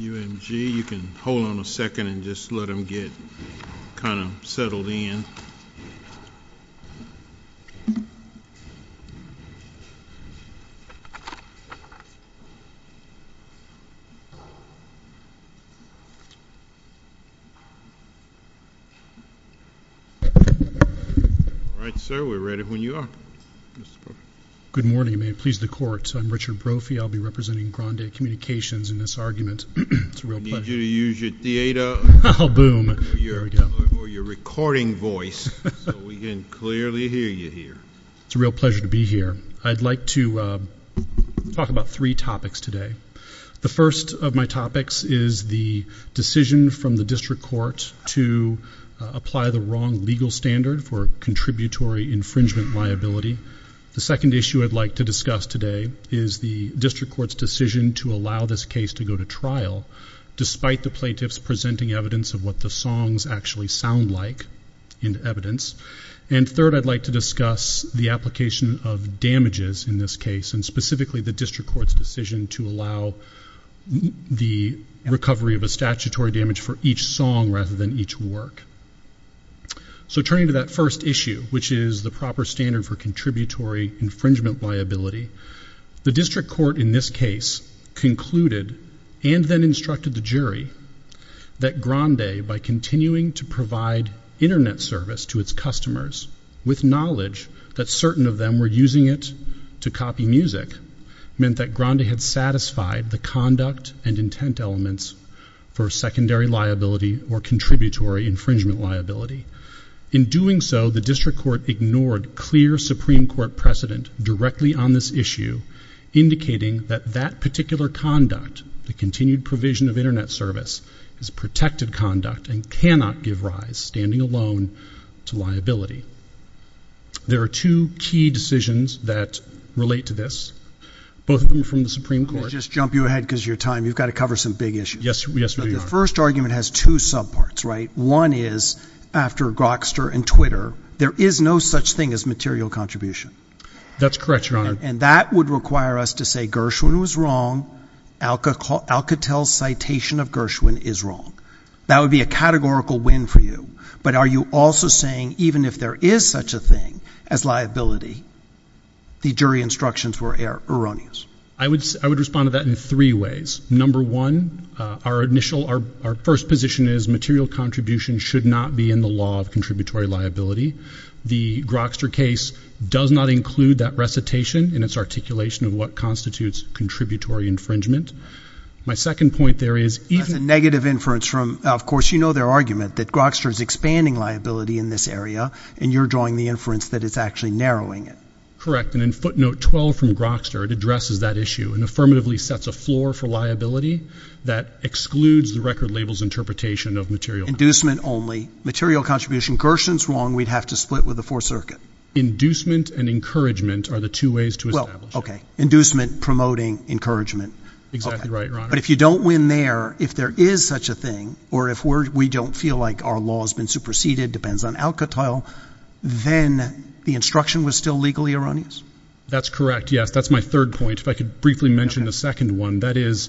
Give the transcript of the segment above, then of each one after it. UMG, you can hold on a second and just let them get kind of settled in. All right, sir, we're ready when you are. Good morning, may it please the court. I'm Richard Brophy. I'll be representing Grande Communications in this argument. It's a real pleasure. I need you to use your theater or your recording voice so we can clearly hear you here. It's a real pleasure to be here. I'd like to talk about three topics today. The first of my topics is the decision from the district court to apply the wrong legal standard for contributory infringement liability. The second issue I'd like to discuss today is the district court's decision to allow this case to go to trial despite the plaintiffs presenting evidence of what the songs actually sound like in evidence. And third, I'd like to discuss the application of damages in this case and specifically the district court's decision to allow the recovery of a statutory damage for each song rather than each work. So turning to that first issue, which is the proper standard for contributory infringement liability, the district court in this case concluded and then instructed the jury that Grande, by continuing to provide Internet service to its customers with knowledge that certain of them were using it to copy music, meant that Grande had satisfied the conduct and intent elements for secondary liability or contributory infringement liability. In doing so, the district court ignored clear Supreme Court precedent directly on this issue, indicating that that particular conduct, the continued provision of Internet service, is protected conduct and cannot give rise, standing alone, to liability. There are two key decisions that relate to this, both of them from the Supreme Court. Let me just jump you ahead because of your time. You've got to cover some big issues. Yes, Your Honor. The first argument has two subparts, right? One is, after Grokster and Twitter, there is no such thing as material contribution. That's correct, Your Honor. And that would require us to say Gershwin was wrong, Alcatel's citation of Gershwin is wrong. That would be a categorical win for you. But are you also saying even if there is such a thing as liability, the jury instructions were erroneous? I would respond to that in three ways. Number one, our first position is material contribution should not be in the law of contributory liability. The Grokster case does not include that recitation in its articulation of what constitutes contributory infringement. My second point there is even— That's a negative inference from—of course, you know their argument that Grokster is expanding liability in this area, and you're drawing the inference that it's actually narrowing it. Correct, and in footnote 12 from Grokster, it addresses that issue and affirmatively sets a floor for liability that excludes the record label's interpretation of material— Inducement only. Material contribution, Gershwin's wrong, we'd have to split with the Fourth Circuit. Inducement and encouragement are the two ways to establish it. Okay. Inducement, promoting, encouragement. Exactly right, Your Honor. But if you don't win there, if there is such a thing, or if we don't feel like our law has been superseded, depends on Alcatel, then the instruction was still legally erroneous? That's correct, yes. That's my third point. If I could briefly mention the second one, that is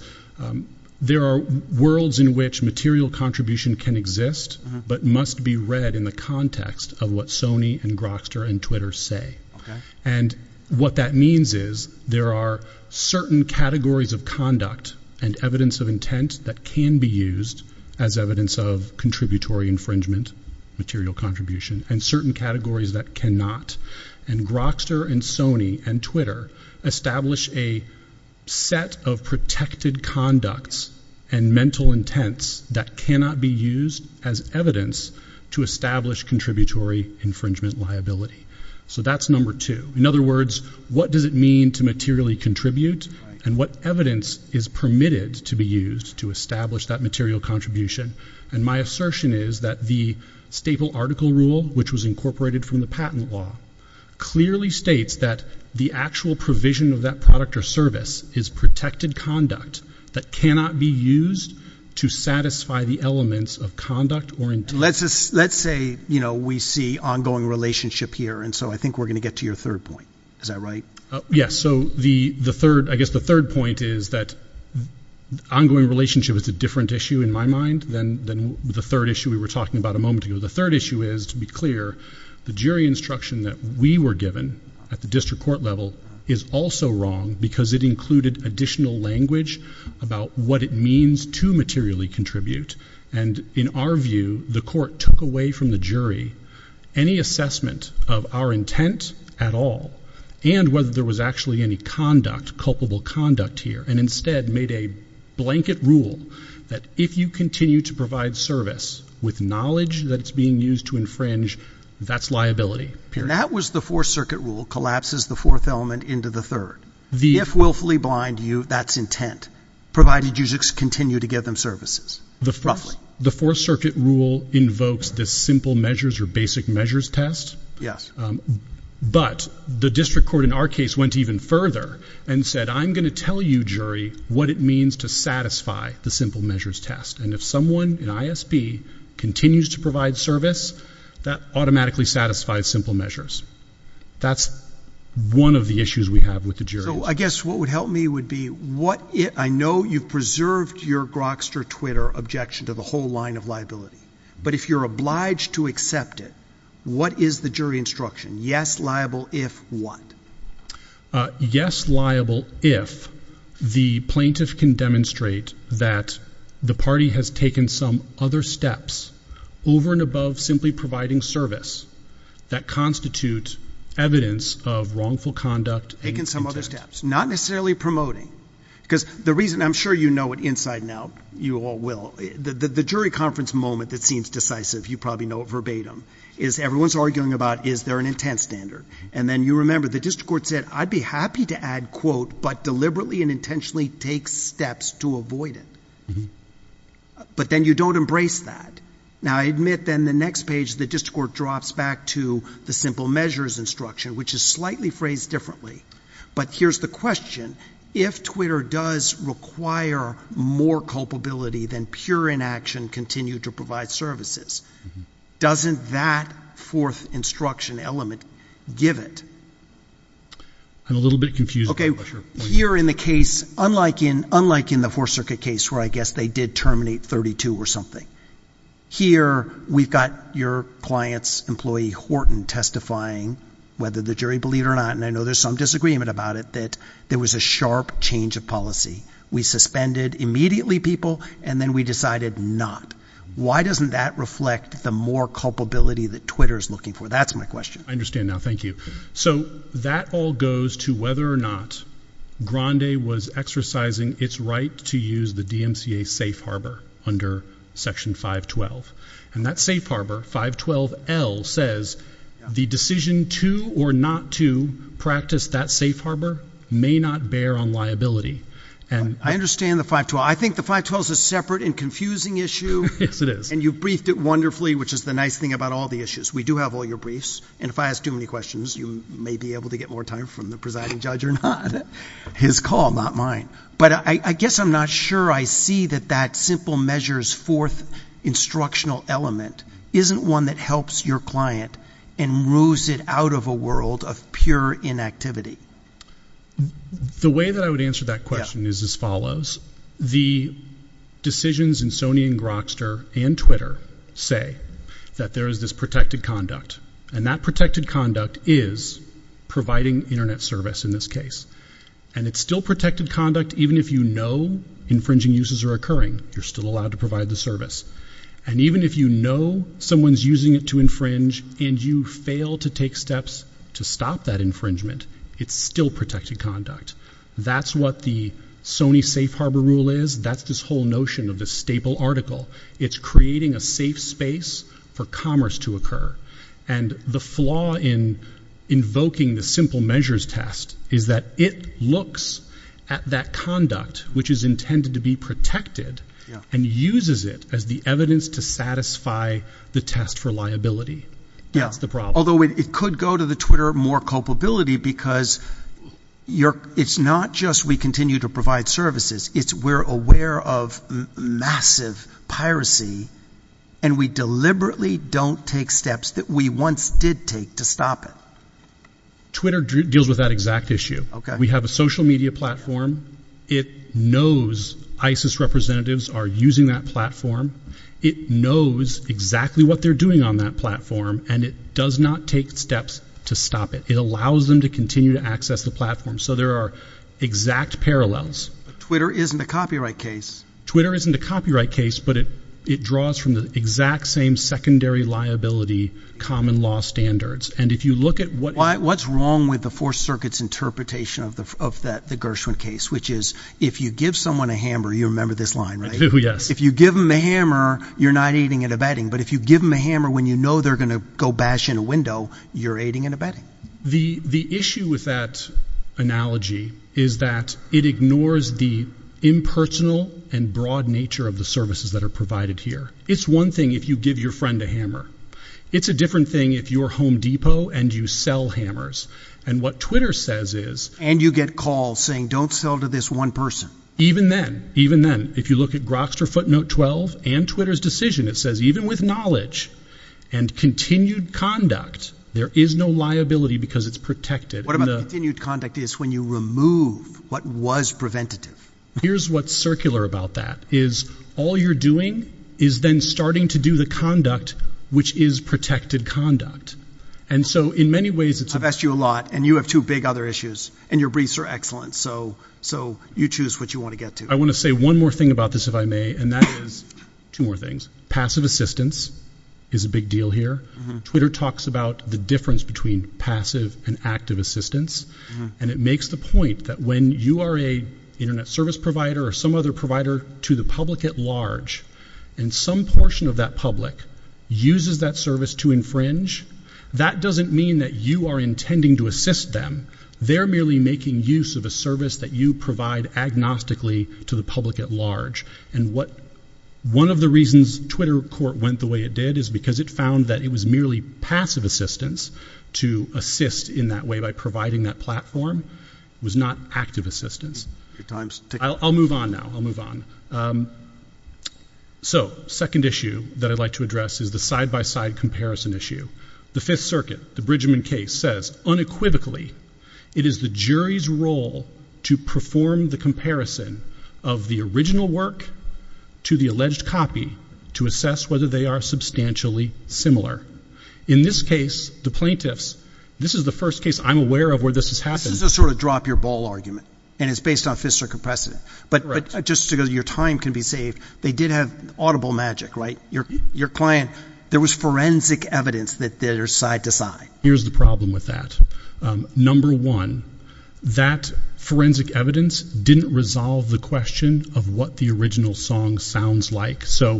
there are worlds in which material contribution can exist but must be read in the context of what Sony and Grokster and Twitter say. Okay. And what that means is there are certain categories of conduct and evidence of intent that can be used as evidence of contributory infringement, material contribution, and certain categories that cannot. And Grokster and Sony and Twitter establish a set of protected conducts and mental intents that cannot be used as evidence to establish contributory infringement liability. So that's number two. In other words, what does it mean to materially contribute? And what evidence is permitted to be used to establish that material contribution? And my assertion is that the staple article rule, which was incorporated from the patent law, clearly states that the actual provision of that product or service is protected conduct that cannot be used to satisfy the elements of conduct or intent. So let's say we see ongoing relationship here, and so I think we're going to get to your third point. Is that right? Yes. So I guess the third point is that ongoing relationship is a different issue in my mind than the third issue we were talking about a moment ago. The third issue is, to be clear, the jury instruction that we were given at the district court level is also wrong because it included additional language about what it means to materially contribute. And in our view, the court took away from the jury any assessment of our intent at all and whether there was actually any conduct, culpable conduct here, and instead made a blanket rule that if you continue to provide service with knowledge that it's being used to infringe, that's liability. That was the Fourth Circuit rule, collapses the fourth element into the third. If willfully blind you, that's intent, provided you continue to give them services. Roughly. The Fourth Circuit rule invokes the simple measures or basic measures test. Yes. But the district court in our case went even further and said, I'm going to tell you, jury, what it means to satisfy the simple measures test. And if someone in ISB continues to provide service, that automatically satisfies simple measures. That's one of the issues we have with the jury instruction. I guess what would help me would be what I know you've preserved your Grokster Twitter objection to the whole line of liability. But if you're obliged to accept it, what is the jury instruction? Yes. Liable if what? Yes. Liable if the plaintiff can demonstrate that the party has taken some other steps over and above simply providing service that constitute evidence of wrongful conduct. Taken some other steps. Not necessarily promoting. Because the reason I'm sure you know it inside and out, you all will, the jury conference moment that seems decisive, you probably know it verbatim, is everyone's arguing about is there an intent standard. And then you remember the district court said, I'd be happy to add quote, but deliberately and intentionally take steps to avoid it. But then you don't embrace that. Now, I admit then the next page the district court drops back to the simple measures instruction, which is slightly phrased differently. But here's the question. If Twitter does require more culpability than pure inaction continued to provide services, doesn't that fourth instruction element give it? I'm a little bit confused. Here in the case, unlike in the Fourth Circuit case where I guess they did terminate 32 or something, here we've got your client's employee Horton testifying whether the jury believed or not, and I know there's some disagreement about it, that there was a sharp change of policy. We suspended immediately people, and then we decided not. Why doesn't that reflect the more culpability that Twitter's looking for? That's my question. I understand now. Thank you. So that all goes to whether or not Grande was exercising its right to use the DMCA safe harbor under Section 512. And that safe harbor, 512L, says the decision to or not to practice that safe harbor may not bear on liability. I understand the 512. I think the 512 is a separate and confusing issue. Yes, it is. And you briefed it wonderfully, which is the nice thing about all the issues. We do have all your briefs. And if I ask too many questions, you may be able to get more time from the presiding judge or not. His call, not mine. But I guess I'm not sure I see that that simple measures fourth instructional element isn't one that helps your client and moves it out of a world of pure inactivity. The way that I would answer that question is as follows. The decisions in Sony and Grokster and Twitter say that there is this protected conduct, and that protected conduct is providing Internet service in this case. And it's still protected conduct even if you know infringing uses are occurring. You're still allowed to provide the service. And even if you know someone's using it to infringe and you fail to take steps to stop that infringement, it's still protected conduct. That's what the Sony safe harbor rule is. That's this whole notion of the staple article. It's creating a safe space for commerce to occur. And the flaw in invoking the simple measures test is that it looks at that conduct, which is intended to be protected, and uses it as the evidence to satisfy the test for liability. That's the problem. Although it could go to the Twitter more culpability because it's not just we continue to provide services. It's we're aware of massive piracy, and we deliberately don't take steps that we once did take to stop it. Twitter deals with that exact issue. We have a social media platform. It knows ISIS representatives are using that platform. It knows exactly what they're doing on that platform. And it does not take steps to stop it. It allows them to continue to access the platform. So there are exact parallels. Twitter isn't a copyright case. Twitter isn't a copyright case, but it draws from the exact same secondary liability common law standards. And if you look at what. What's wrong with the four circuits interpretation of the Gershwin case, which is if you give someone a hammer, you remember this line, right? Yes. If you give them a hammer, you're not eating at a bedding. But if you give them a hammer when you know they're going to go bash in a window, you're aiding and abetting. The issue with that analogy is that it ignores the impersonal and broad nature of the services that are provided here. It's one thing if you give your friend a hammer. It's a different thing if you're Home Depot and you sell hammers. And what Twitter says is. And you get calls saying don't sell to this one person. Even then, even then, if you look at Grokster footnote 12 and Twitter's decision, it says even with knowledge and continued conduct, there is no liability because it's protected. What about continued conduct is when you remove what was preventative? Here's what's circular about that is all you're doing is then starting to do the conduct which is protected conduct. And so in many ways, it's. I've asked you a lot and you have two big other issues and your briefs are excellent. So so you choose what you want to get to. I want to say one more thing about this, if I may. And that is two more things. Passive assistance is a big deal here. Twitter talks about the difference between passive and active assistance. And it makes the point that when you are a Internet service provider or some other provider to the public at large and some portion of that public uses that service to infringe. That doesn't mean that you are intending to assist them. They're merely making use of a service that you provide agnostically to the public at large. And what one of the reasons Twitter court went the way it did is because it found that it was merely passive assistance to assist in that way by providing that platform was not active assistance. I'll move on now. I'll move on. So second issue that I'd like to address is the side by side comparison issue. The Fifth Circuit, the Bridgman case, says unequivocally it is the jury's role to perform the comparison of the original work to the alleged copy to assess whether they are substantially similar. In this case, the plaintiffs, this is the first case I'm aware of where this has happened. This is a sort of drop your ball argument. And it's based on Fifth Circuit precedent. But just because your time can be saved. They did have audible magic, right? Your client, there was forensic evidence that there's side to side. Here's the problem with that. Number one, that forensic evidence didn't resolve the question of what the original song sounds like. So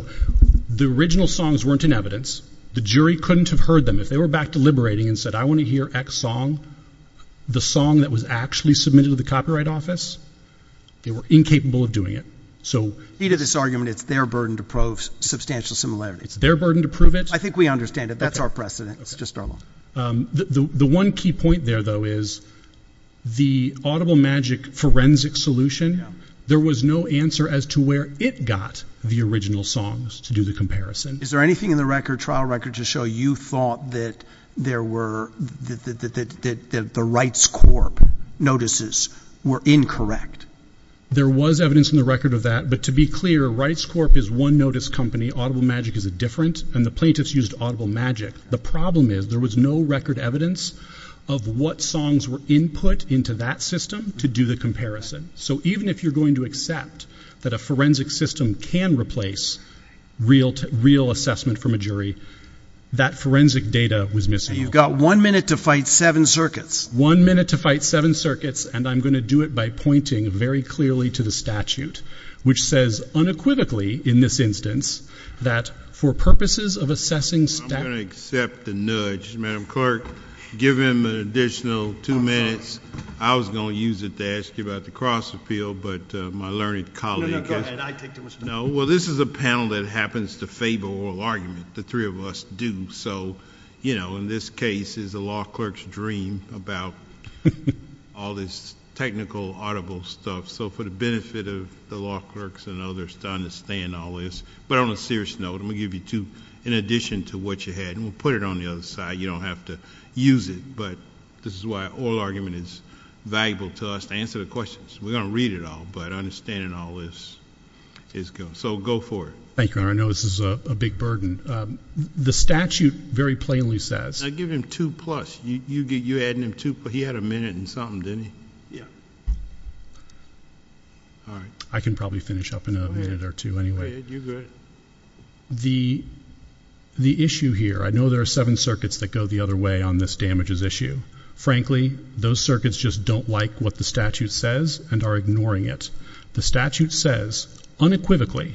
the original songs weren't in evidence. The jury couldn't have heard them. If they were back deliberating and said I want to hear X song, the song that was actually submitted to the copyright office, they were incapable of doing it. So it's their burden to prove substantial similarity. It's their burden to prove it. I think we understand it. That's our precedent. It's just our law. The one key point there, though, is the audible magic forensic solution. There was no answer as to where it got the original songs to do the comparison. Is there anything in the record trial record to show you thought that there were that the rights corp notices were incorrect? There was evidence in the record of that. But to be clear, rights corp is one notice company. Audible magic is a different. And the plaintiffs used audible magic. The problem is there was no record evidence of what songs were input into that system to do the comparison. So even if you're going to accept that a forensic system can replace real assessment from a jury, that forensic data was missing. You've got one minute to fight seven circuits. One minute to fight seven circuits, and I'm going to do it by pointing very clearly to the statute, which says unequivocally in this instance that for purposes of assessing statute. I'm going to accept the nudge. Madam Clerk, give him an additional two minutes. I was going to use it to ask you about the cross appeal, but my learned colleague. No, no, go ahead. I take too much time. No? Well, this is a panel that happens to favor oral argument. The three of us do. So, you know, in this case, it's the law clerk's dream about all this technical audible stuff. So for the benefit of the law clerks and others to understand all this. But on a serious note, I'm going to give you two in addition to what you had. And we'll put it on the other side. You don't have to use it, but this is why oral argument is valuable to us to answer the questions. We're going to read it all, but understanding all this is good. So go for it. Thank you. I know this is a big burden. The statute very plainly says. I give him two plus. You're adding him two plus. He had a minute and something, didn't he? Yeah. All right. I can probably finish up in a minute or two anyway. Go ahead. You're good. The issue here, I know there are seven circuits that go the other way on this damages issue. Frankly, those circuits just don't like what the statute says and are ignoring it. The statute says unequivocally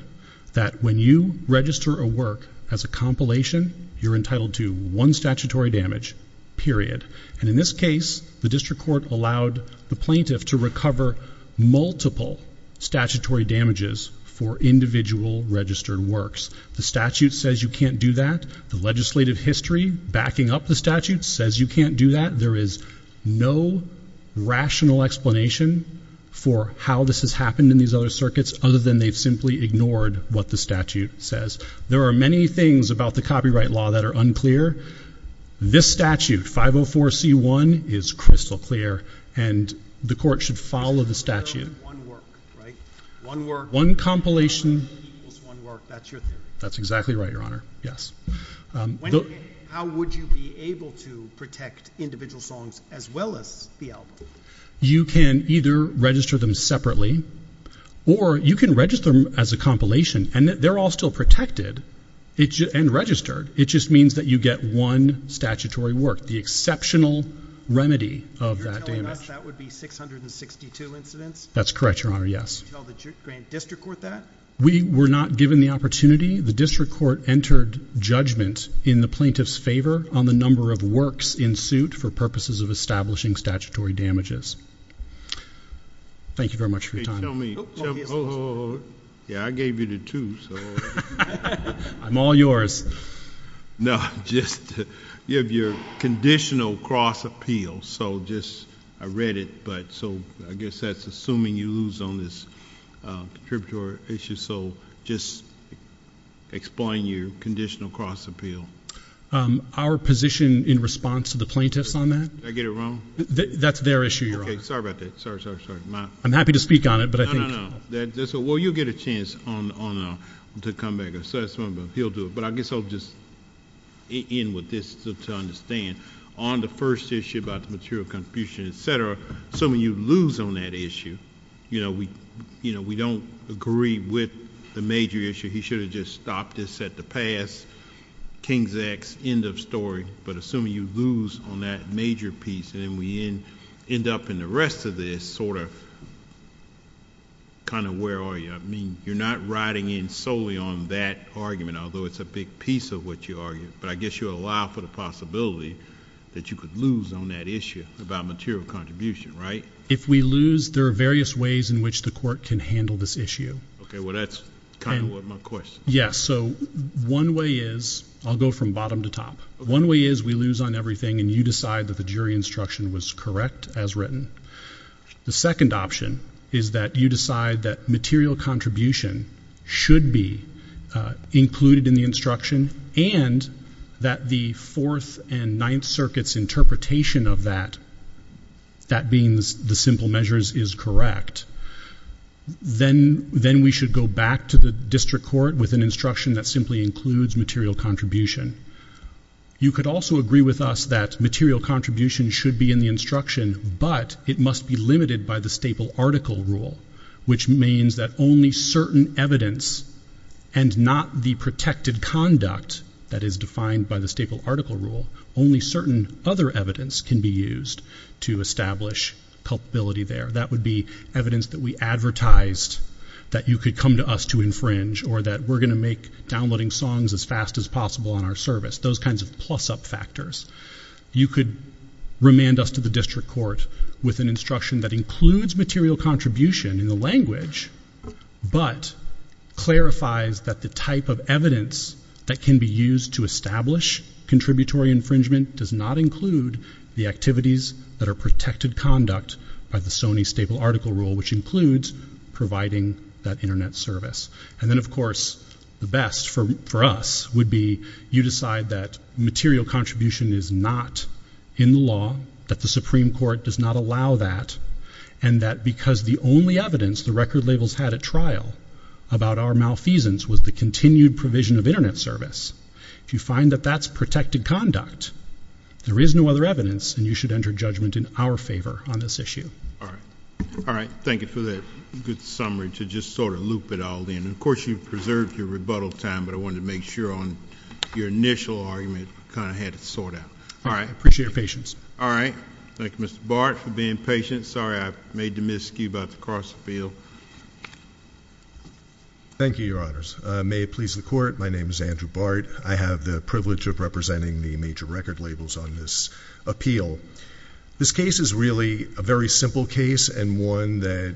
that when you register a work as a compilation, you're entitled to one statutory damage, period. And in this case, the district court allowed the plaintiff to recover multiple statutory damages for individual registered works. The statute says you can't do that. The legislative history backing up the statute says you can't do that. There is no rational explanation for how this has happened in these other circuits other than they've simply ignored what the statute says. There are many things about the copyright law that are unclear. This statute, 504C1, is crystal clear, and the court should follow the statute. One work, right? One work. One compilation. One work equals one work. That's your theory. That's exactly right, Your Honor. Yes. How would you be able to protect individual songs as well as the album? You can either register them separately or you can register them as a compilation, and they're all still protected and registered. It just means that you get one statutory work, the exceptional remedy of that damage. You're telling us that would be 662 incidents? That's correct, Your Honor, yes. Did you tell the grand district court that? We were not given the opportunity. The district court entered judgment in the plaintiff's favor on the number of works in suit for purposes of establishing statutory damages. Thank you very much for your time. Tell me. Yeah, I gave you the two, so... I'm all yours. No, just you have your conditional cross appeal, so just I read it, but so I guess that's assuming you lose on this contributory issue, so just explain your conditional cross appeal. Our position in response to the plaintiff's on that? Did I get it wrong? That's their issue, Your Honor. Okay, sorry about that. Sorry, sorry, sorry. I'm happy to speak on it, but I think... No, no, no. Well, you'll get a chance to come back and say something, but he'll do it. But I guess I'll just end with this to understand. On the first issue about the material contribution, et cetera, so when you lose on that issue, you know, we don't agree with the major issue. He should have just stopped this at the past, King's Act, end of story, but assuming you lose on that major piece and then we end up in the rest of this, sort of kind of where are you? I mean, you're not riding in solely on that argument, although it's a big piece of what you argued, but I guess you allow for the possibility that you could lose on that issue about material contribution, right? If we lose, there are various ways in which the court can handle this issue. Okay, well, that's kind of what my question is. Yes, so one way is... I'll go from bottom to top. One way is we lose on everything and you decide that the jury instruction was correct as written. The second option is that you decide that material contribution should be included in the instruction and that the Fourth and Ninth Circuit's interpretation of that, that being the simple measures, is correct. Then we should go back to the district court with an instruction that simply includes material contribution. You could also agree with us that material contribution should be in the instruction, but it must be limited by the staple article rule, which means that only certain evidence and not the protected conduct that is defined by the staple article rule, only certain other evidence can be used to establish culpability there. That would be evidence that we advertised that you could come to us to infringe or that we're going to make downloading songs as fast as possible on our service, those kinds of plus-up factors. You could remand us to the district court with an instruction that includes material contribution in the language, but clarifies that the type of evidence that can be used to establish contributory infringement does not include the activities that are protected conduct by the Sony staple article rule, which includes providing that Internet service. And then, of course, the best for us would be you decide that material contribution is not in the law, that the Supreme Court does not allow that, and that because the only evidence the record labels had at trial about our malfeasance was the continued provision of Internet service. If you find that that's protected conduct, there is no other evidence, and you should enter judgment in our favor on this issue. All right. All right. Thank you for that good summary to just sort of loop it all in. And, of course, you've preserved your rebuttal time, but I wanted to make sure on your initial argument kind of had it sort out. All right. I appreciate your patience. All right. Thank you, Mr. Bart, for being patient. Sorry I made the miscue about the cross-appeal. Thank you, Your Honors. May it please the Court, my name is Andrew Bart. I have the privilege of representing the major record labels on this appeal. This case is really a very simple case and one that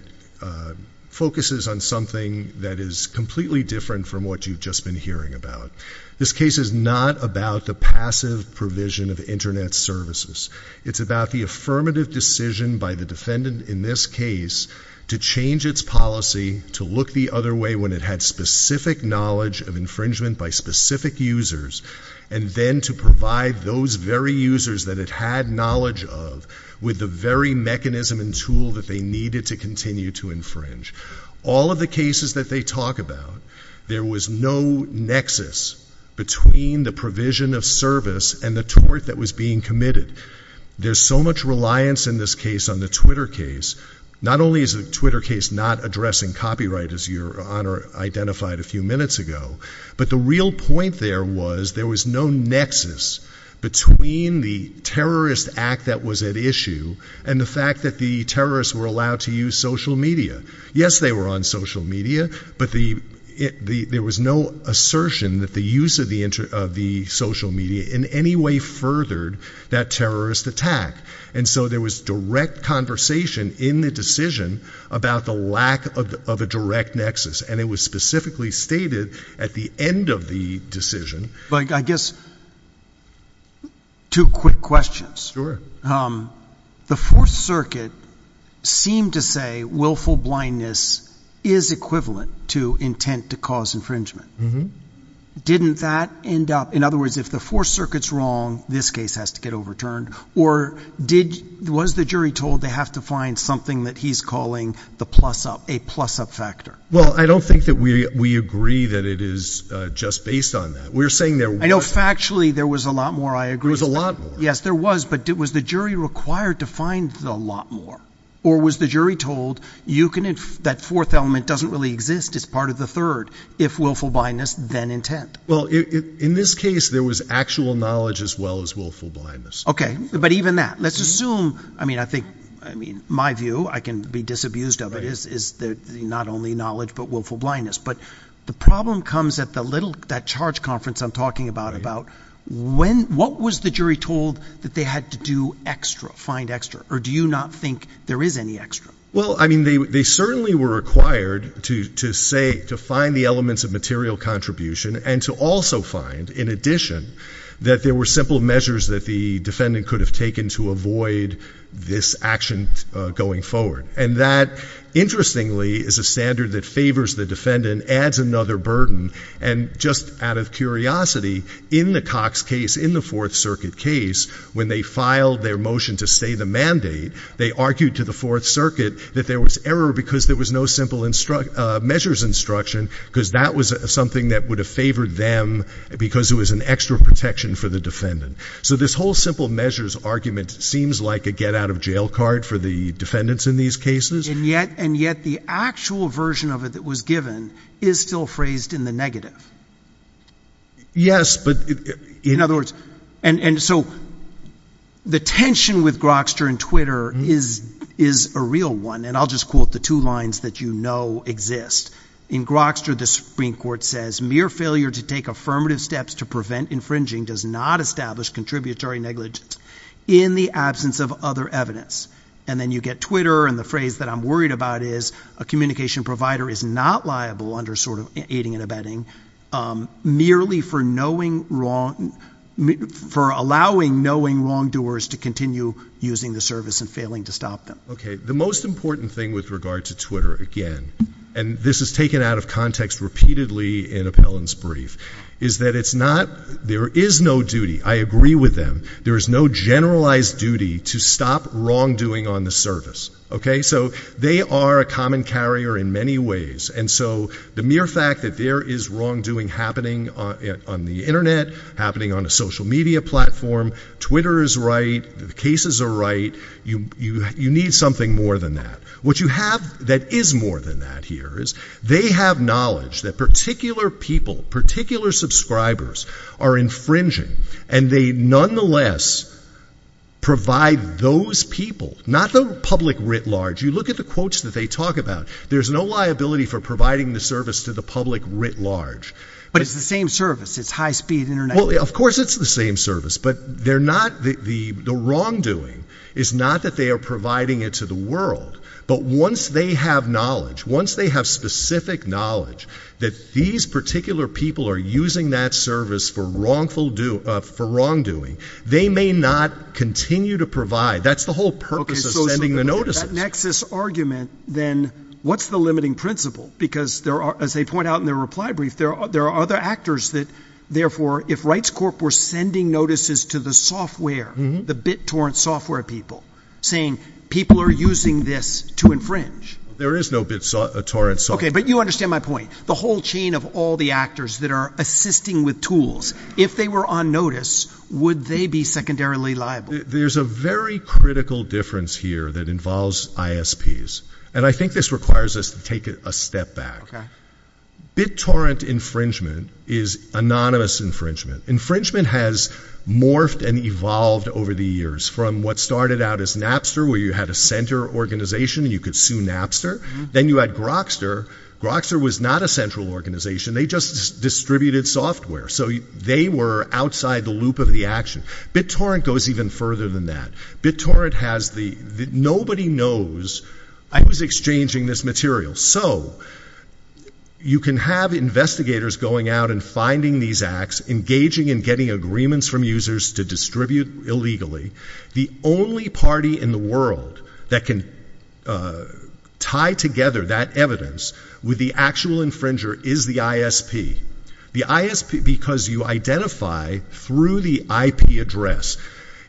focuses on something that is completely different from what you've just been hearing about. This case is not about the passive provision of Internet services. It's about the affirmative decision by the defendant in this case to change its policy to look the other way when it had specific knowledge of infringement by specific users, and then to provide those very users that it had knowledge of with the very mechanism and tool that they needed to continue to infringe. All of the cases that they talk about, there was no nexus between the provision of service and the tort that was being committed. There's so much reliance in this case on the Twitter case. Not only is the Twitter case not addressing copyright, as Your Honor identified a few minutes ago, but the real point there was there was no nexus between the terrorist act that was at issue and the fact that the terrorists were allowed to use social media. Yes, they were on social media, but there was no assertion that the use of the social media in any way furthered that terrorist attack. And so there was direct conversation in the decision about the lack of a direct nexus, and it was specifically stated at the end of the decision... I guess two quick questions. Sure. The Fourth Circuit seemed to say willful blindness is equivalent to intent to cause infringement. Mm-hmm. Didn't that end up... In other words, if the Fourth Circuit's wrong, this case has to get overturned, or was the jury told they have to find something that he's calling the plus-up, a plus-up factor? Well, I don't think that we agree that it is just based on that. We're saying there was... I know factually there was a lot more, I agree. There was a lot more. Yes, there was, but was the jury required to find a lot more, or was the jury told that fourth element doesn't really exist, it's part of the third, if willful blindness, then intent? Well, in this case, there was actual knowledge as well as willful blindness. Okay, but even that, let's assume... I mean, my view, I can be disabused of it, is not only knowledge but willful blindness. But the problem comes at that charge conference I'm talking about, about what was the jury told that they had to do extra, find extra, or do you not think there is any extra? Well, I mean, they certainly were required to say, to find the elements of material contribution and to also find, in addition, that there were simple measures that the defendant could have taken to avoid this action going forward. And that, interestingly, is a standard that favors the defendant, adds another burden, and just out of curiosity, in the Cox case, in the Fourth Circuit case, when they filed their motion to stay the mandate, they argued to the Fourth Circuit that there was error because there was no simple measures instruction, because that was something that would have favored them because it was an extra protection for the defendant. So this whole simple measures argument seems like a get-out-of-jail card for the defendants in these cases. And yet the actual version of it that was given is still phrased in the negative. Yes, but... In other words, and so the tension with Grokster and Twitter is a real one, and I'll just quote the two lines that you know exist. In Grokster, the Supreme Court says, mere failure to take affirmative steps to prevent infringing does not establish contributory negligence in the absence of other evidence. And then you get Twitter, and the phrase that I'm worried about is, a communication provider is not liable under sort of aiding and abetting merely for allowing knowing wrongdoers to continue using the service and failing to stop them. Okay, the most important thing with regard to Twitter, again, and this is taken out of context repeatedly in Appellant's brief, is that it's not, there is no duty, I agree with them, there is no generalized duty to stop wrongdoing on the service. Okay, so they are a common carrier in many ways, and so the mere fact that there is wrongdoing happening on the Internet, happening on a social media platform, Twitter is right, the cases are right, you need something more than that. What you have that is more than that here is, they have knowledge that particular people, particular subscribers, are infringing, and they nonetheless provide those people, not the public writ large, you look at the quotes that they talk about, there's no liability for providing the service to the public writ large. But it's the same service, it's high-speed Internet. Well, of course it's the same service, but they're not, the wrongdoing is not that they are providing it to the world, but once they have knowledge, once they have specific knowledge, that these particular people are using that service for wrongdoing, they may not continue to provide. That's the whole purpose of sending the notices. Okay, so that nexus argument, then, what's the limiting principle? Because, as they point out in their reply brief, there are other actors that, therefore, if Rights Corp were sending notices to the software, the BitTorrent software people, saying people are using this to infringe. There is no BitTorrent software. Okay, but you understand my point. The whole chain of all the actors that are assisting with tools, if they were on notice, would they be secondarily liable? There's a very critical difference here that involves ISPs, and I think this requires us to take a step back. BitTorrent infringement is anonymous infringement. Infringement has morphed and evolved over the years from what started out as Napster, where you had a center organization and you could sue Napster. Then you had Grokster. Grokster was not a central organization. They just distributed software, so they were outside the loop of the action. BitTorrent goes even further than that. BitTorrent has the, nobody knows, I was exchanging this material. So you can have investigators going out and finding these acts, engaging in getting agreements from users to distribute illegally. The only party in the world that can tie together that evidence with the actual infringer is the ISP. The ISP, because you identify through the IP address.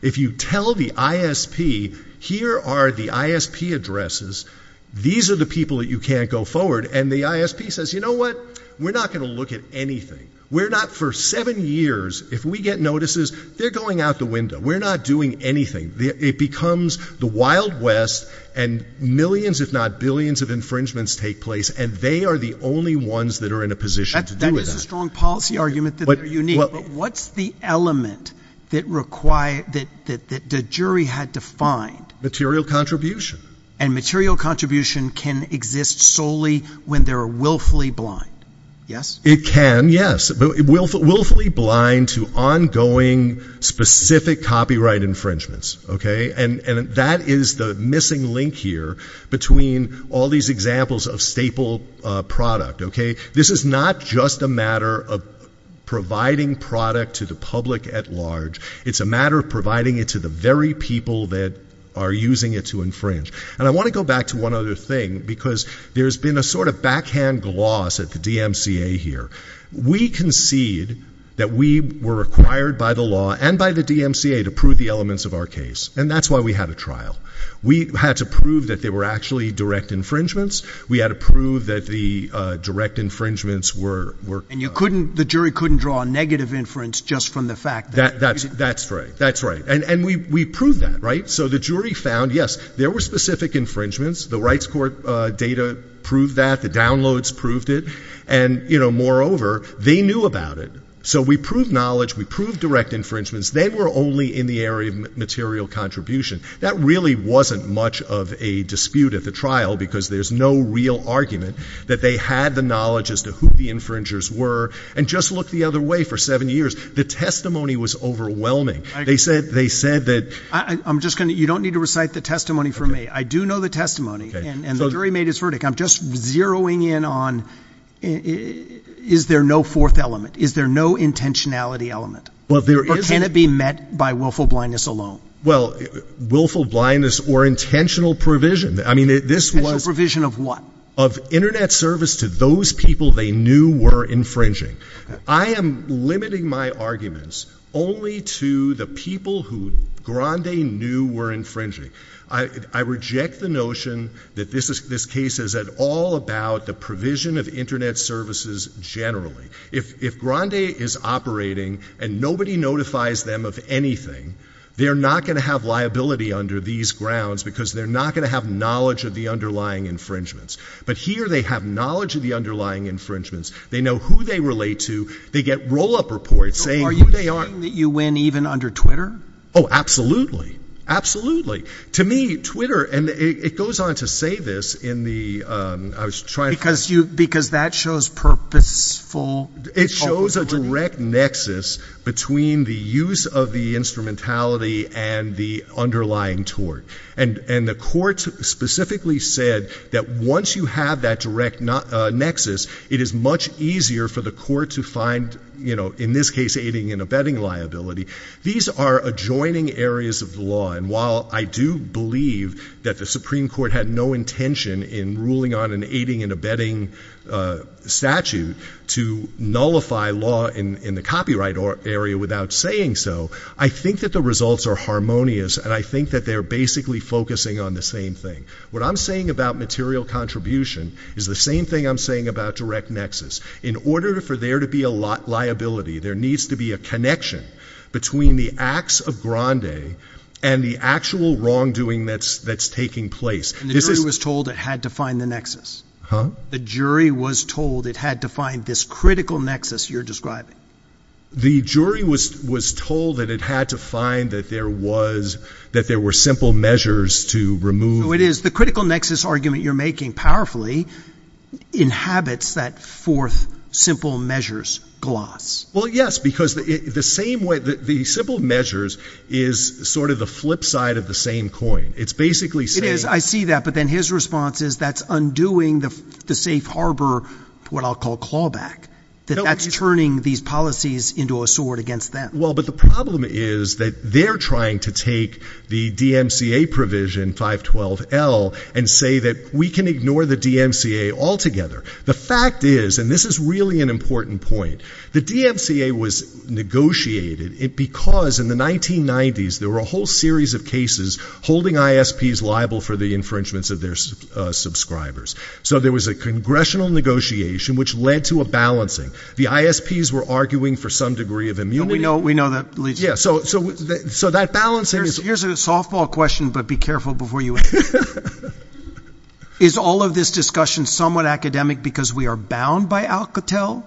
If you tell the ISP, here are the ISP addresses, these are the people that you can't go forward, and the ISP says, you know what? We're not going to look at anything. We're not, for seven years, if we get notices, they're going out the window. We're not doing anything. It becomes the Wild West, and millions if not billions of infringements take place, and they are the only ones that are in a position to do that. That is a strong policy argument that they're unique. But what's the element that required, that the jury had to find? Material contribution. And material contribution can exist solely when they're willfully blind. Yes? It can, yes. Willfully blind to ongoing specific copyright infringements, okay? And that is the missing link here between all these examples of staple product, okay? This is not just a matter of providing product to the public at large. It's a matter of providing it to the very people that are using it to infringe. And I want to go back to one other thing, because there's been a sort of backhand gloss at the DMCA here. We concede that we were required by the law and by the DMCA to prove the elements of our case, and that's why we had a trial. We had to prove that they were actually direct infringements. We had to prove that the direct infringements were... That's right. That's right. And we proved that, right? So the jury found, yes, there were specific infringements. The rights court data proved that. The downloads proved it. And, you know, moreover, they knew about it. So we proved knowledge. We proved direct infringements. They were only in the area of material contribution. That really wasn't much of a dispute at the trial, because there's no real argument that they had the knowledge as to who the infringers were and just looked the other way for seven years. The testimony was overwhelming. They said that... I'm just going to... You don't need to recite the testimony for me. I do know the testimony, and the jury made its verdict. I'm just zeroing in on is there no fourth element? Is there no intentionality element? Well, there is. Or can it be met by willful blindness alone? Well, willful blindness or intentional provision. I mean, this was... Intentional provision of what? Of Internet service to those people they knew were infringing. I am limiting my arguments only to the people who Grande knew were infringing. I reject the notion that this case is at all about the provision of Internet services generally. If Grande is operating and nobody notifies them of anything, they're not going to have liability under these grounds because they're not going to have knowledge of the underlying infringements. But here they have knowledge of the underlying infringements. They know who they relate to. They get roll-up reports saying who they are. So are you saying that you win even under Twitter? Oh, absolutely. Absolutely. To me, Twitter... And it goes on to say this in the... I was trying to... Because that shows purposeful... It shows a direct nexus between the use of the instrumentality and the underlying tort. And the court specifically said that once you have that direct nexus, it is much easier for the court to find, in this case, aiding and abetting liability. These are adjoining areas of the law. And while I do believe that the Supreme Court had no intention in ruling on an aiding and abetting statute to nullify law in the copyright area without saying so, I think that the results are harmonious. And I think that they're basically focusing on the same thing. What I'm saying about material contribution is the same thing I'm saying about direct nexus. In order for there to be a liability, there needs to be a connection between the acts of grande and the actual wrongdoing that's taking place. And the jury was told it had to find the nexus? Huh? The jury was told it had to find this critical nexus you're describing? The jury was told that it had to find that there were simple measures to remove. So it is. The critical nexus argument you're making powerfully inhabits that fourth simple measures gloss. Well, yes, because the simple measures is sort of the flip side of the same coin. It's basically saying— It is. I see that. But then his response is that's undoing the safe harbor what I'll call clawback, that that's turning these policies into a sword against them. Well, but the problem is that they're trying to take the DMCA provision, 512L, and say that we can ignore the DMCA altogether. The fact is, and this is really an important point, the DMCA was negotiated because in the 1990s there were a whole series of cases holding ISPs liable for the infringements of their subscribers. So there was a congressional negotiation which led to a balancing. The ISPs were arguing for some degree of immunity. We know that. So that balancing is— Here's a softball question, but be careful before you answer it. Is all of this discussion somewhat academic because we are bound by Alcatel?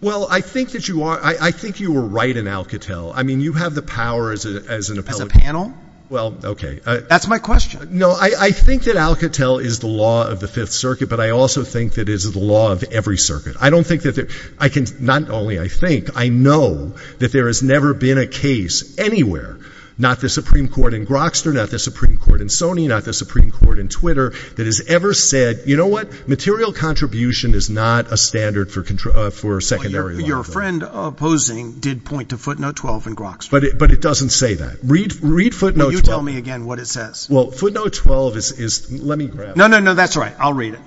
Well, I think that you are. I think you were right in Alcatel. I mean, you have the power as an appellate. As a panel? Well, okay. That's my question. No, I think that Alcatel is the law of the Fifth Circuit, but I also think that it is the law of every circuit. Not only I think, I know that there has never been a case anywhere, not the Supreme Court in Grokster, not the Supreme Court in Sony, not the Supreme Court in Twitter, that has ever said, you know what? Material contribution is not a standard for secondary law. Your friend opposing did point to footnote 12 in Grokster. But it doesn't say that. Read footnote 12. Well, you tell me again what it says. Well, footnote 12 is, let me grab it. No, no, no, that's all right. I'll read it.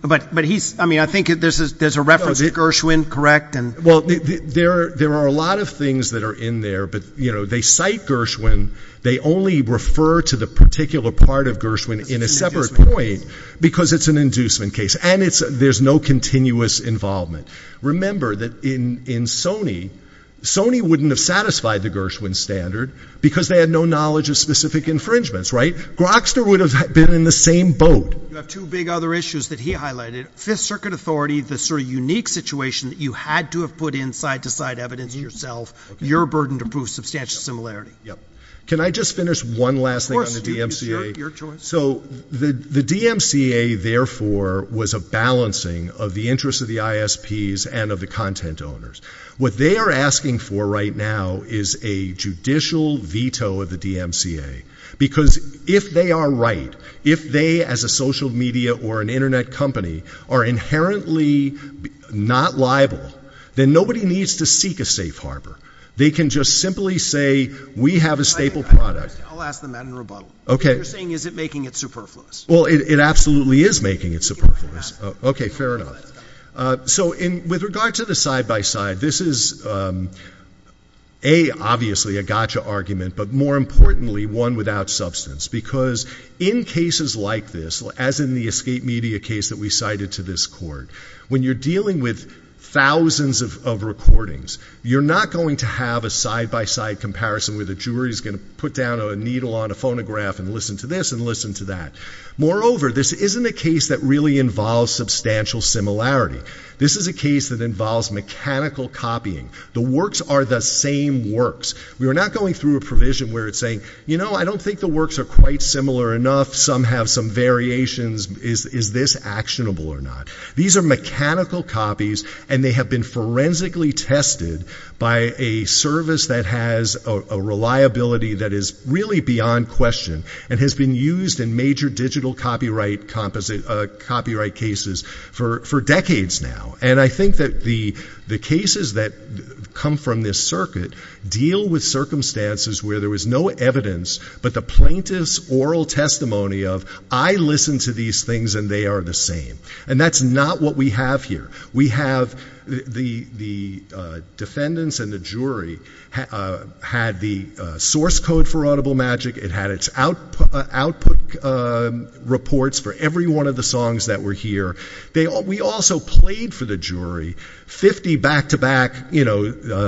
But he's, I mean, I think there's a reference to Gershwin, correct? Well, there are a lot of things that are in there. But, you know, they cite Gershwin. They only refer to the particular part of Gershwin in a separate point because it's an inducement case. And there's no continuous involvement. Remember that in Sony, Sony wouldn't have satisfied the Gershwin standard because they had no knowledge of specific infringements, right? Grokster would have been in the same boat. You have two big other issues that he highlighted. Fifth Circuit authority, the sort of unique situation that you had to have put in side-to-side evidence yourself, your burden to prove substantial similarity. Yep. Can I just finish one last thing on the DMCA? Of course, your choice. So the DMCA, therefore, was a balancing of the interests of the ISPs and of the content owners. What they are asking for right now is a judicial veto of the DMCA because if they are right, if they, as a social media or an Internet company, are inherently not liable, then nobody needs to seek a safe harbor. They can just simply say, we have a staple product. I'll ask them that in rebuttal. Okay. You're saying, is it making it superfluous? Well, it absolutely is making it superfluous. Okay, fair enough. So with regard to the side-by-side, this is, A, obviously a gotcha argument, but more importantly, one without substance because in cases like this, as in the escape media case that we cited to this court, when you're dealing with thousands of recordings, you're not going to have a side-by-side comparison where the jury is going to put down a needle on a phonograph and listen to this and listen to that. Moreover, this isn't a case that really involves substantial similarity. This is a case that involves mechanical copying. The works are the same works. We are not going through a provision where it's saying, you know, I don't think the works are quite similar enough. Some have some variations. Is this actionable or not? These are mechanical copies, and they have been forensically tested by a service that has a reliability that is really beyond question and has been used in major digital copyright cases for decades now. And I think that the cases that come from this circuit deal with circumstances where there was no evidence but the plaintiff's oral testimony of, I listened to these things and they are the same. And that's not what we have here. We have the defendants and the jury had the source code for Audible Magic. It had its output reports for every one of the songs that were here. We also played for the jury 50 back-to-back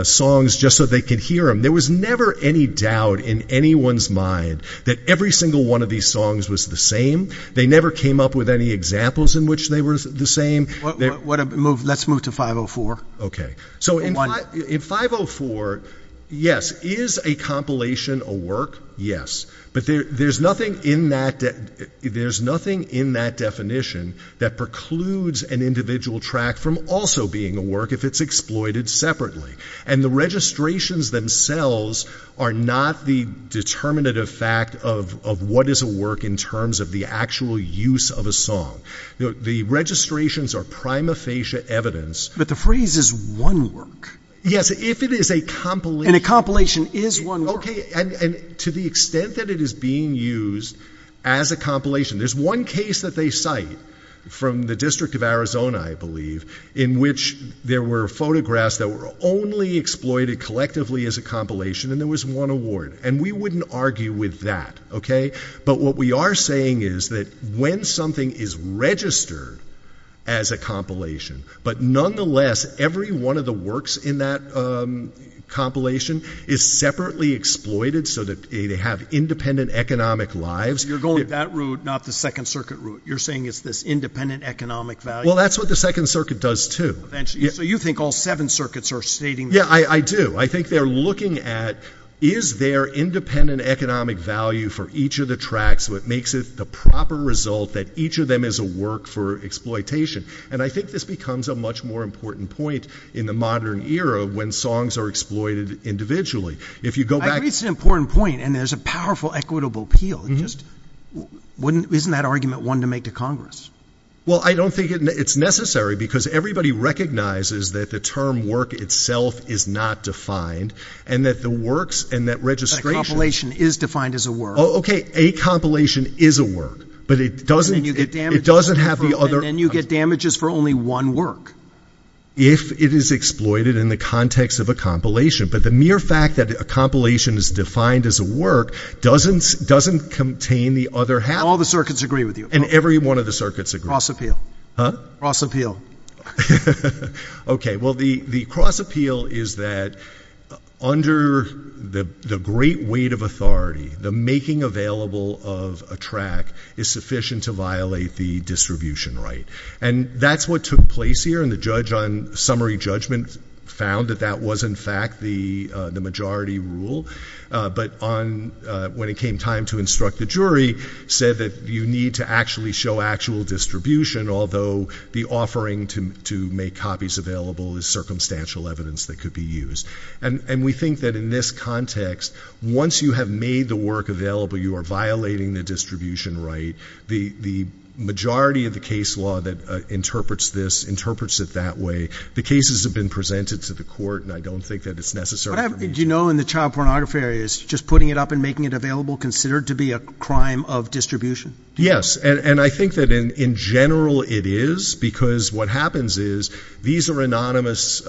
songs just so they could hear them. There was never any doubt in anyone's mind that every single one of these songs was the same. They never came up with any examples in which they were the same. Let's move to 504. In 504, yes, is a compilation a work? Yes. But there's nothing in that definition that precludes an individual track from also being a work if it's exploited separately. And the registrations themselves are not the determinative fact of what is a work in terms of the actual use of a song. The registrations are prima facie evidence. But the phrase is one work. Yes, if it is a compilation. And a compilation is one work. Okay, and to the extent that it is being used as a compilation, there's one case that they cite from the District of Arizona, I believe, in which there were photographs that were only exploited collectively as a compilation and there was one award. And we wouldn't argue with that, okay? But what we are saying is that when something is registered as a compilation, but nonetheless every one of the works in that compilation is separately exploited so that they have independent economic lives. You're going that route, not the Second Circuit route. You're saying it's this independent economic value? Well, that's what the Second Circuit does too. So you think all seven circuits are stating that? Yeah, I do. I think they're looking at is there independent economic value for each of the tracks so it makes it the proper result that each of them is a work for exploitation. And I think this becomes a much more important point in the modern era when songs are exploited individually. I agree it's an important point, and there's a powerful equitable appeal. Isn't that argument one to make to Congress? Well, I don't think it's necessary because everybody recognizes that the term work itself is not defined and that the works and that registration. A compilation is defined as a work. Okay, a compilation is a work, but it doesn't have the other. And then you get damages for only one work. If it is exploited in the context of a compilation. But the mere fact that a compilation is defined as a work doesn't contain the other half. All the circuits agree with you. And every one of the circuits agrees. Cross appeal. Huh? Cross appeal. Okay, well, the cross appeal is that under the great weight of authority, the making available of a track is sufficient to violate the distribution right. And that's what took place here, and the judge on summary judgment found that that was, in fact, the majority rule. But when it came time to instruct the jury, said that you need to actually show actual distribution, although the offering to make copies available is circumstantial evidence that could be used. And we think that in this context, once you have made the work available, you are violating the distribution right. The majority of the case law that interprets this, interprets it that way. The cases have been presented to the court, and I don't think that it's necessary. Do you know in the child pornography area, is just putting it up and making it available considered to be a crime of distribution? Yes. And I think that in general it is, because what happens is these are anonymous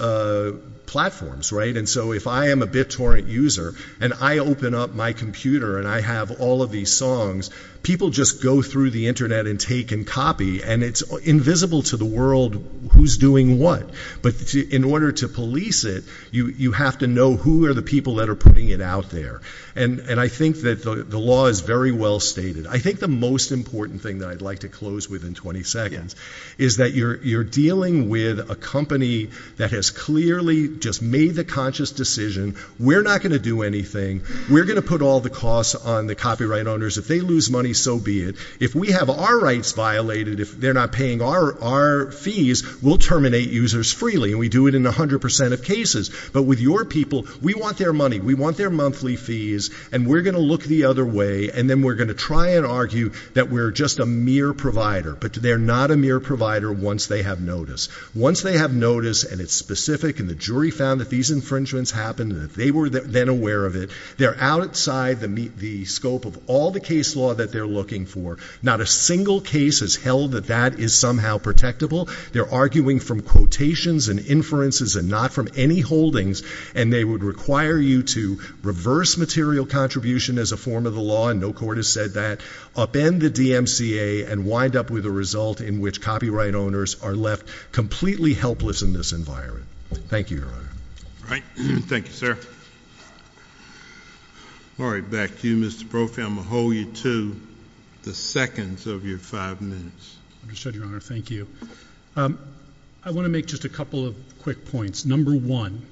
platforms, right? And so if I am a BitTorrent user, and I open up my computer, and I have all of these songs, people just go through the Internet and take and copy, and it's invisible to the world who's doing what. But in order to police it, you have to know who are the people that are putting it out there. And I think that the law is very well stated. I think the most important thing that I'd like to close with in 20 seconds is that you're dealing with a company that has clearly just made the conscious decision, we're not going to do anything, we're going to put all the costs on the copyright owners. If they lose money, so be it. If we have our rights violated, if they're not paying our fees, we'll terminate users freely, and we do it in 100% of cases. But with your people, we want their money, we want their monthly fees, and we're going to look the other way, and then we're going to try and argue that we're just a mere provider. But they're not a mere provider once they have notice. Once they have notice, and it's specific, and the jury found that these infringements happened, and they were then aware of it, they're outside the scope of all the case law that they're looking for. Not a single case has held that that is somehow protectable. They're arguing from quotations and inferences and not from any holdings, and they would require you to reverse material contribution as a form of the law, and no court has said that, upend the DMCA and wind up with a result in which copyright owners are left completely helpless in this environment. Thank you, Your Honor. All right. Thank you, sir. All right. Back to you, Mr. Brophy. I'm going to hold you to the seconds of your five minutes. Understood, Your Honor. Thank you. I want to make just a couple of quick points. Number one,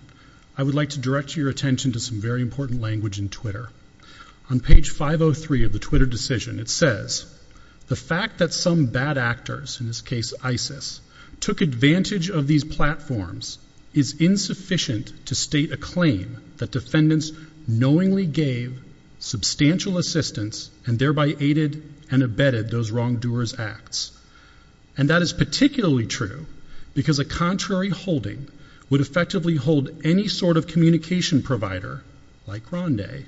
I would like to direct your attention to some very important language in Twitter. On page 503 of the Twitter decision, it says, the fact that some bad actors, in this case ISIS, took advantage of these platforms is insufficient to state a claim that defendants knowingly gave substantial assistance and thereby aided and abetted those wrongdoers' acts. And that is particularly true because a contrary holding would effectively hold any sort of communication provider, like Rondae,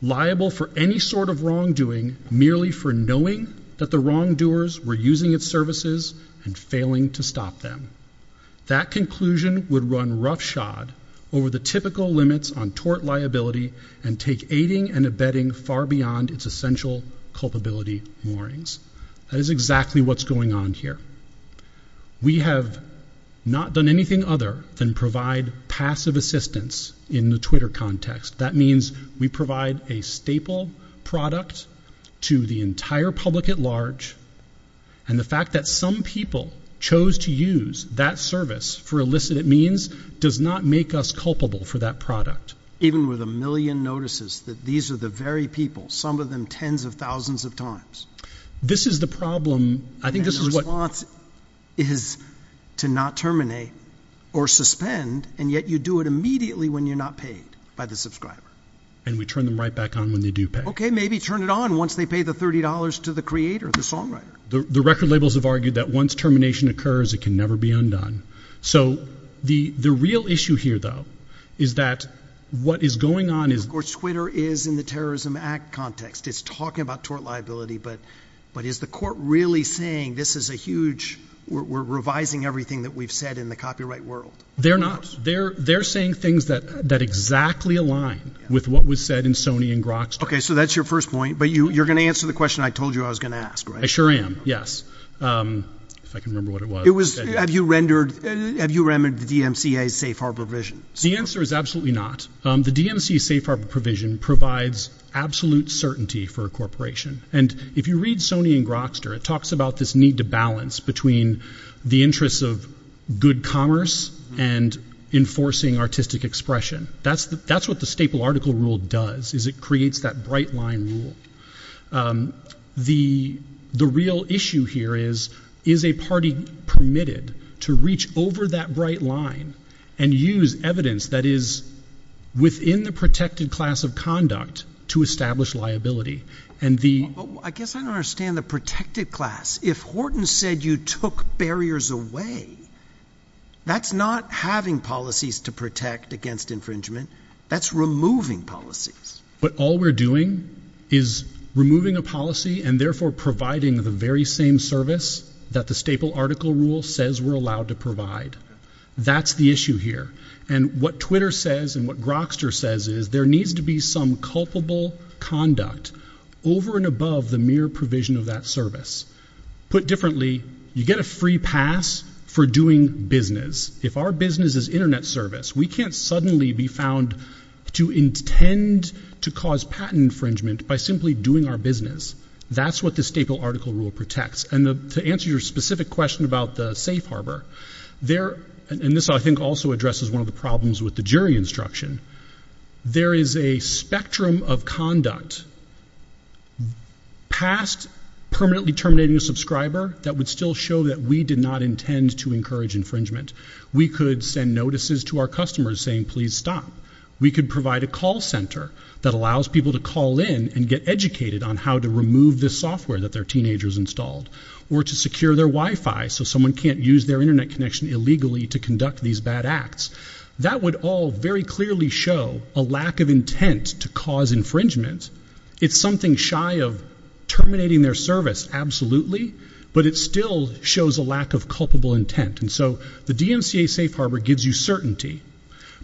liable for any sort of wrongdoing merely for knowing that the wrongdoers were using its services and failing to stop them. That conclusion would run roughshod over the typical limits on tort liability and take aiding and abetting far beyond its essential culpability warnings. That is exactly what's going on here. We have not done anything other than provide passive assistance in the Twitter context. That means we provide a staple product to the entire public at large, and the fact that some people chose to use that service for illicit means does not make us culpable for that product. Even with a million notices that these are the very people, some of them tens of thousands of times. This is the problem. And the response is to not terminate or suspend, and yet you do it immediately when you're not paid by the subscriber. And we turn them right back on when they do pay. Okay, maybe turn it on once they pay the $30 to the creator, the songwriter. The record labels have argued that once termination occurs, it can never be undone. So the real issue here, though, is that what is going on is... Of course, Twitter is in the Terrorism Act context. It's talking about tort liability. But is the court really saying this is a huge... We're revising everything that we've said in the copyright world? They're not. They're saying things that exactly align with what was said in Sony and Grok's. Okay, so that's your first point. But you're going to answer the question I told you I was going to ask, right? I sure am, yes. If I can remember what it was. Have you rendered the DMCA safe harbor provision? The answer is absolutely not. The DMCA safe harbor provision provides absolute certainty for a corporation. And if you read Sony and Grokster, it talks about this need to balance between the interests of good commerce and enforcing artistic expression. That's what the staple article rule does, is it creates that bright line rule. The real issue here is, is a party permitted to reach over that bright line and use evidence that is within the protected class of conduct to establish liability. I guess I don't understand the protected class. If Horton said you took barriers away, that's not having policies to protect against infringement. That's removing policies. But all we're doing is removing a policy and therefore providing the very same service that the staple article rule says we're allowed to provide. That's the issue here. And what Twitter says and what Grokster says is there needs to be some culpable conduct over and above the mere provision of that service. Put differently, you get a free pass for doing business. If our business is internet service, we can't suddenly be found to intend to cause patent infringement by simply doing our business. That's what the staple article rule protects. And to answer your specific question about the safe harbor, and this I think also addresses one of the problems with the jury instruction, there is a spectrum of conduct past permanently terminating a subscriber that would still show that we did not intend to encourage infringement. We could send notices to our customers saying, please stop. We could provide a call center that allows people to call in and get educated on how to remove the software that their teenager's installed or to secure their Wi-Fi so someone can't use their internet connection illegally to conduct these bad acts. That would all very clearly show a lack of intent to cause infringement. It's something shy of terminating their service, absolutely, but it still shows a lack of culpable intent. And so the DMCA safe harbor gives you certainty.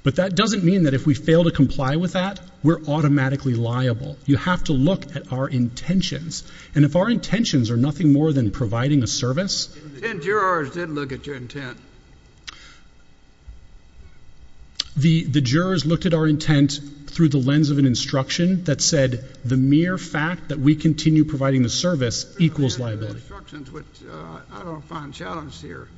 But that doesn't mean that if we fail to comply with that, we're automatically liable. You have to look at our intentions. And if our intentions are nothing more than providing a service. The jurors did look at your intent. The jurors looked at our intent through the lens of an instruction that said, the mere fact that we continue providing the service equals liability. I don't find that challenge here.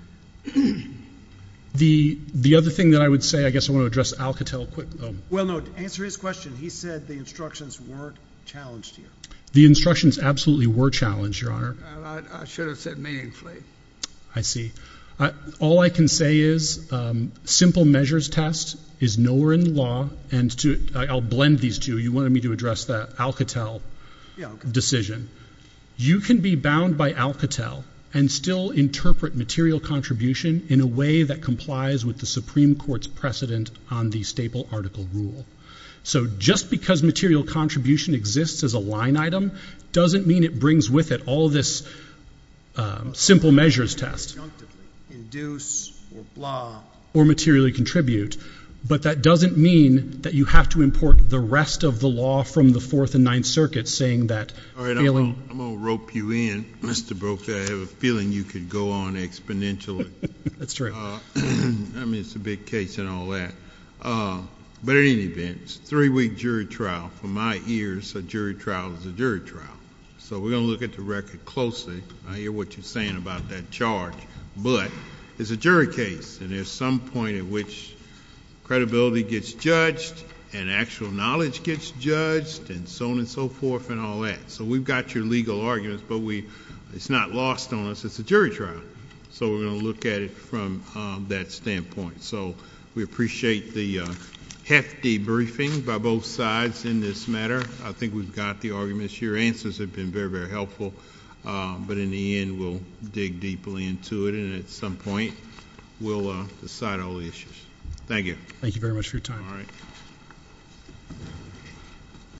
The other thing that I would say, I guess I want to address Alcatel quick though. Well, no, to answer his question, he said the instructions weren't challenged here. The instructions absolutely were challenged, Your Honor. I should have said meaningfully. I see. All I can say is simple measures test is nowhere in the law. And I'll blend these two. You wanted me to address the Alcatel decision. You can be bound by Alcatel and still interpret material contribution in a way that complies with the Supreme Court's precedent on the staple article rule. So just because material contribution exists as a line item, doesn't mean it brings with it all this simple measures test. Induce or blah. Or materially contribute. But that doesn't mean that you have to import the rest of the law from the Fourth and Ninth Circuits saying that. All right, I'm going to rope you in, Mr. Brokaw. I have a feeling you could go on exponentially. That's true. I mean, it's a big case and all that. But in any event, it's a three-week jury trial. From my ears, a jury trial is a jury trial. So we're going to look at the record closely. I hear what you're saying about that charge. But it's a jury case, and there's some point at which credibility gets judged and actual knowledge gets judged and so on and so forth and all that. So we've got your legal arguments, but it's not lost on us. It's a jury trial. So we're going to look at it from that standpoint. So we appreciate the hefty briefing by both sides in this matter. I think we've got the arguments. Your answers have been very, very helpful. But in the end, we'll dig deeply into it, and at some point we'll decide all the issues. Thank you. Thank you very much for your time. All right.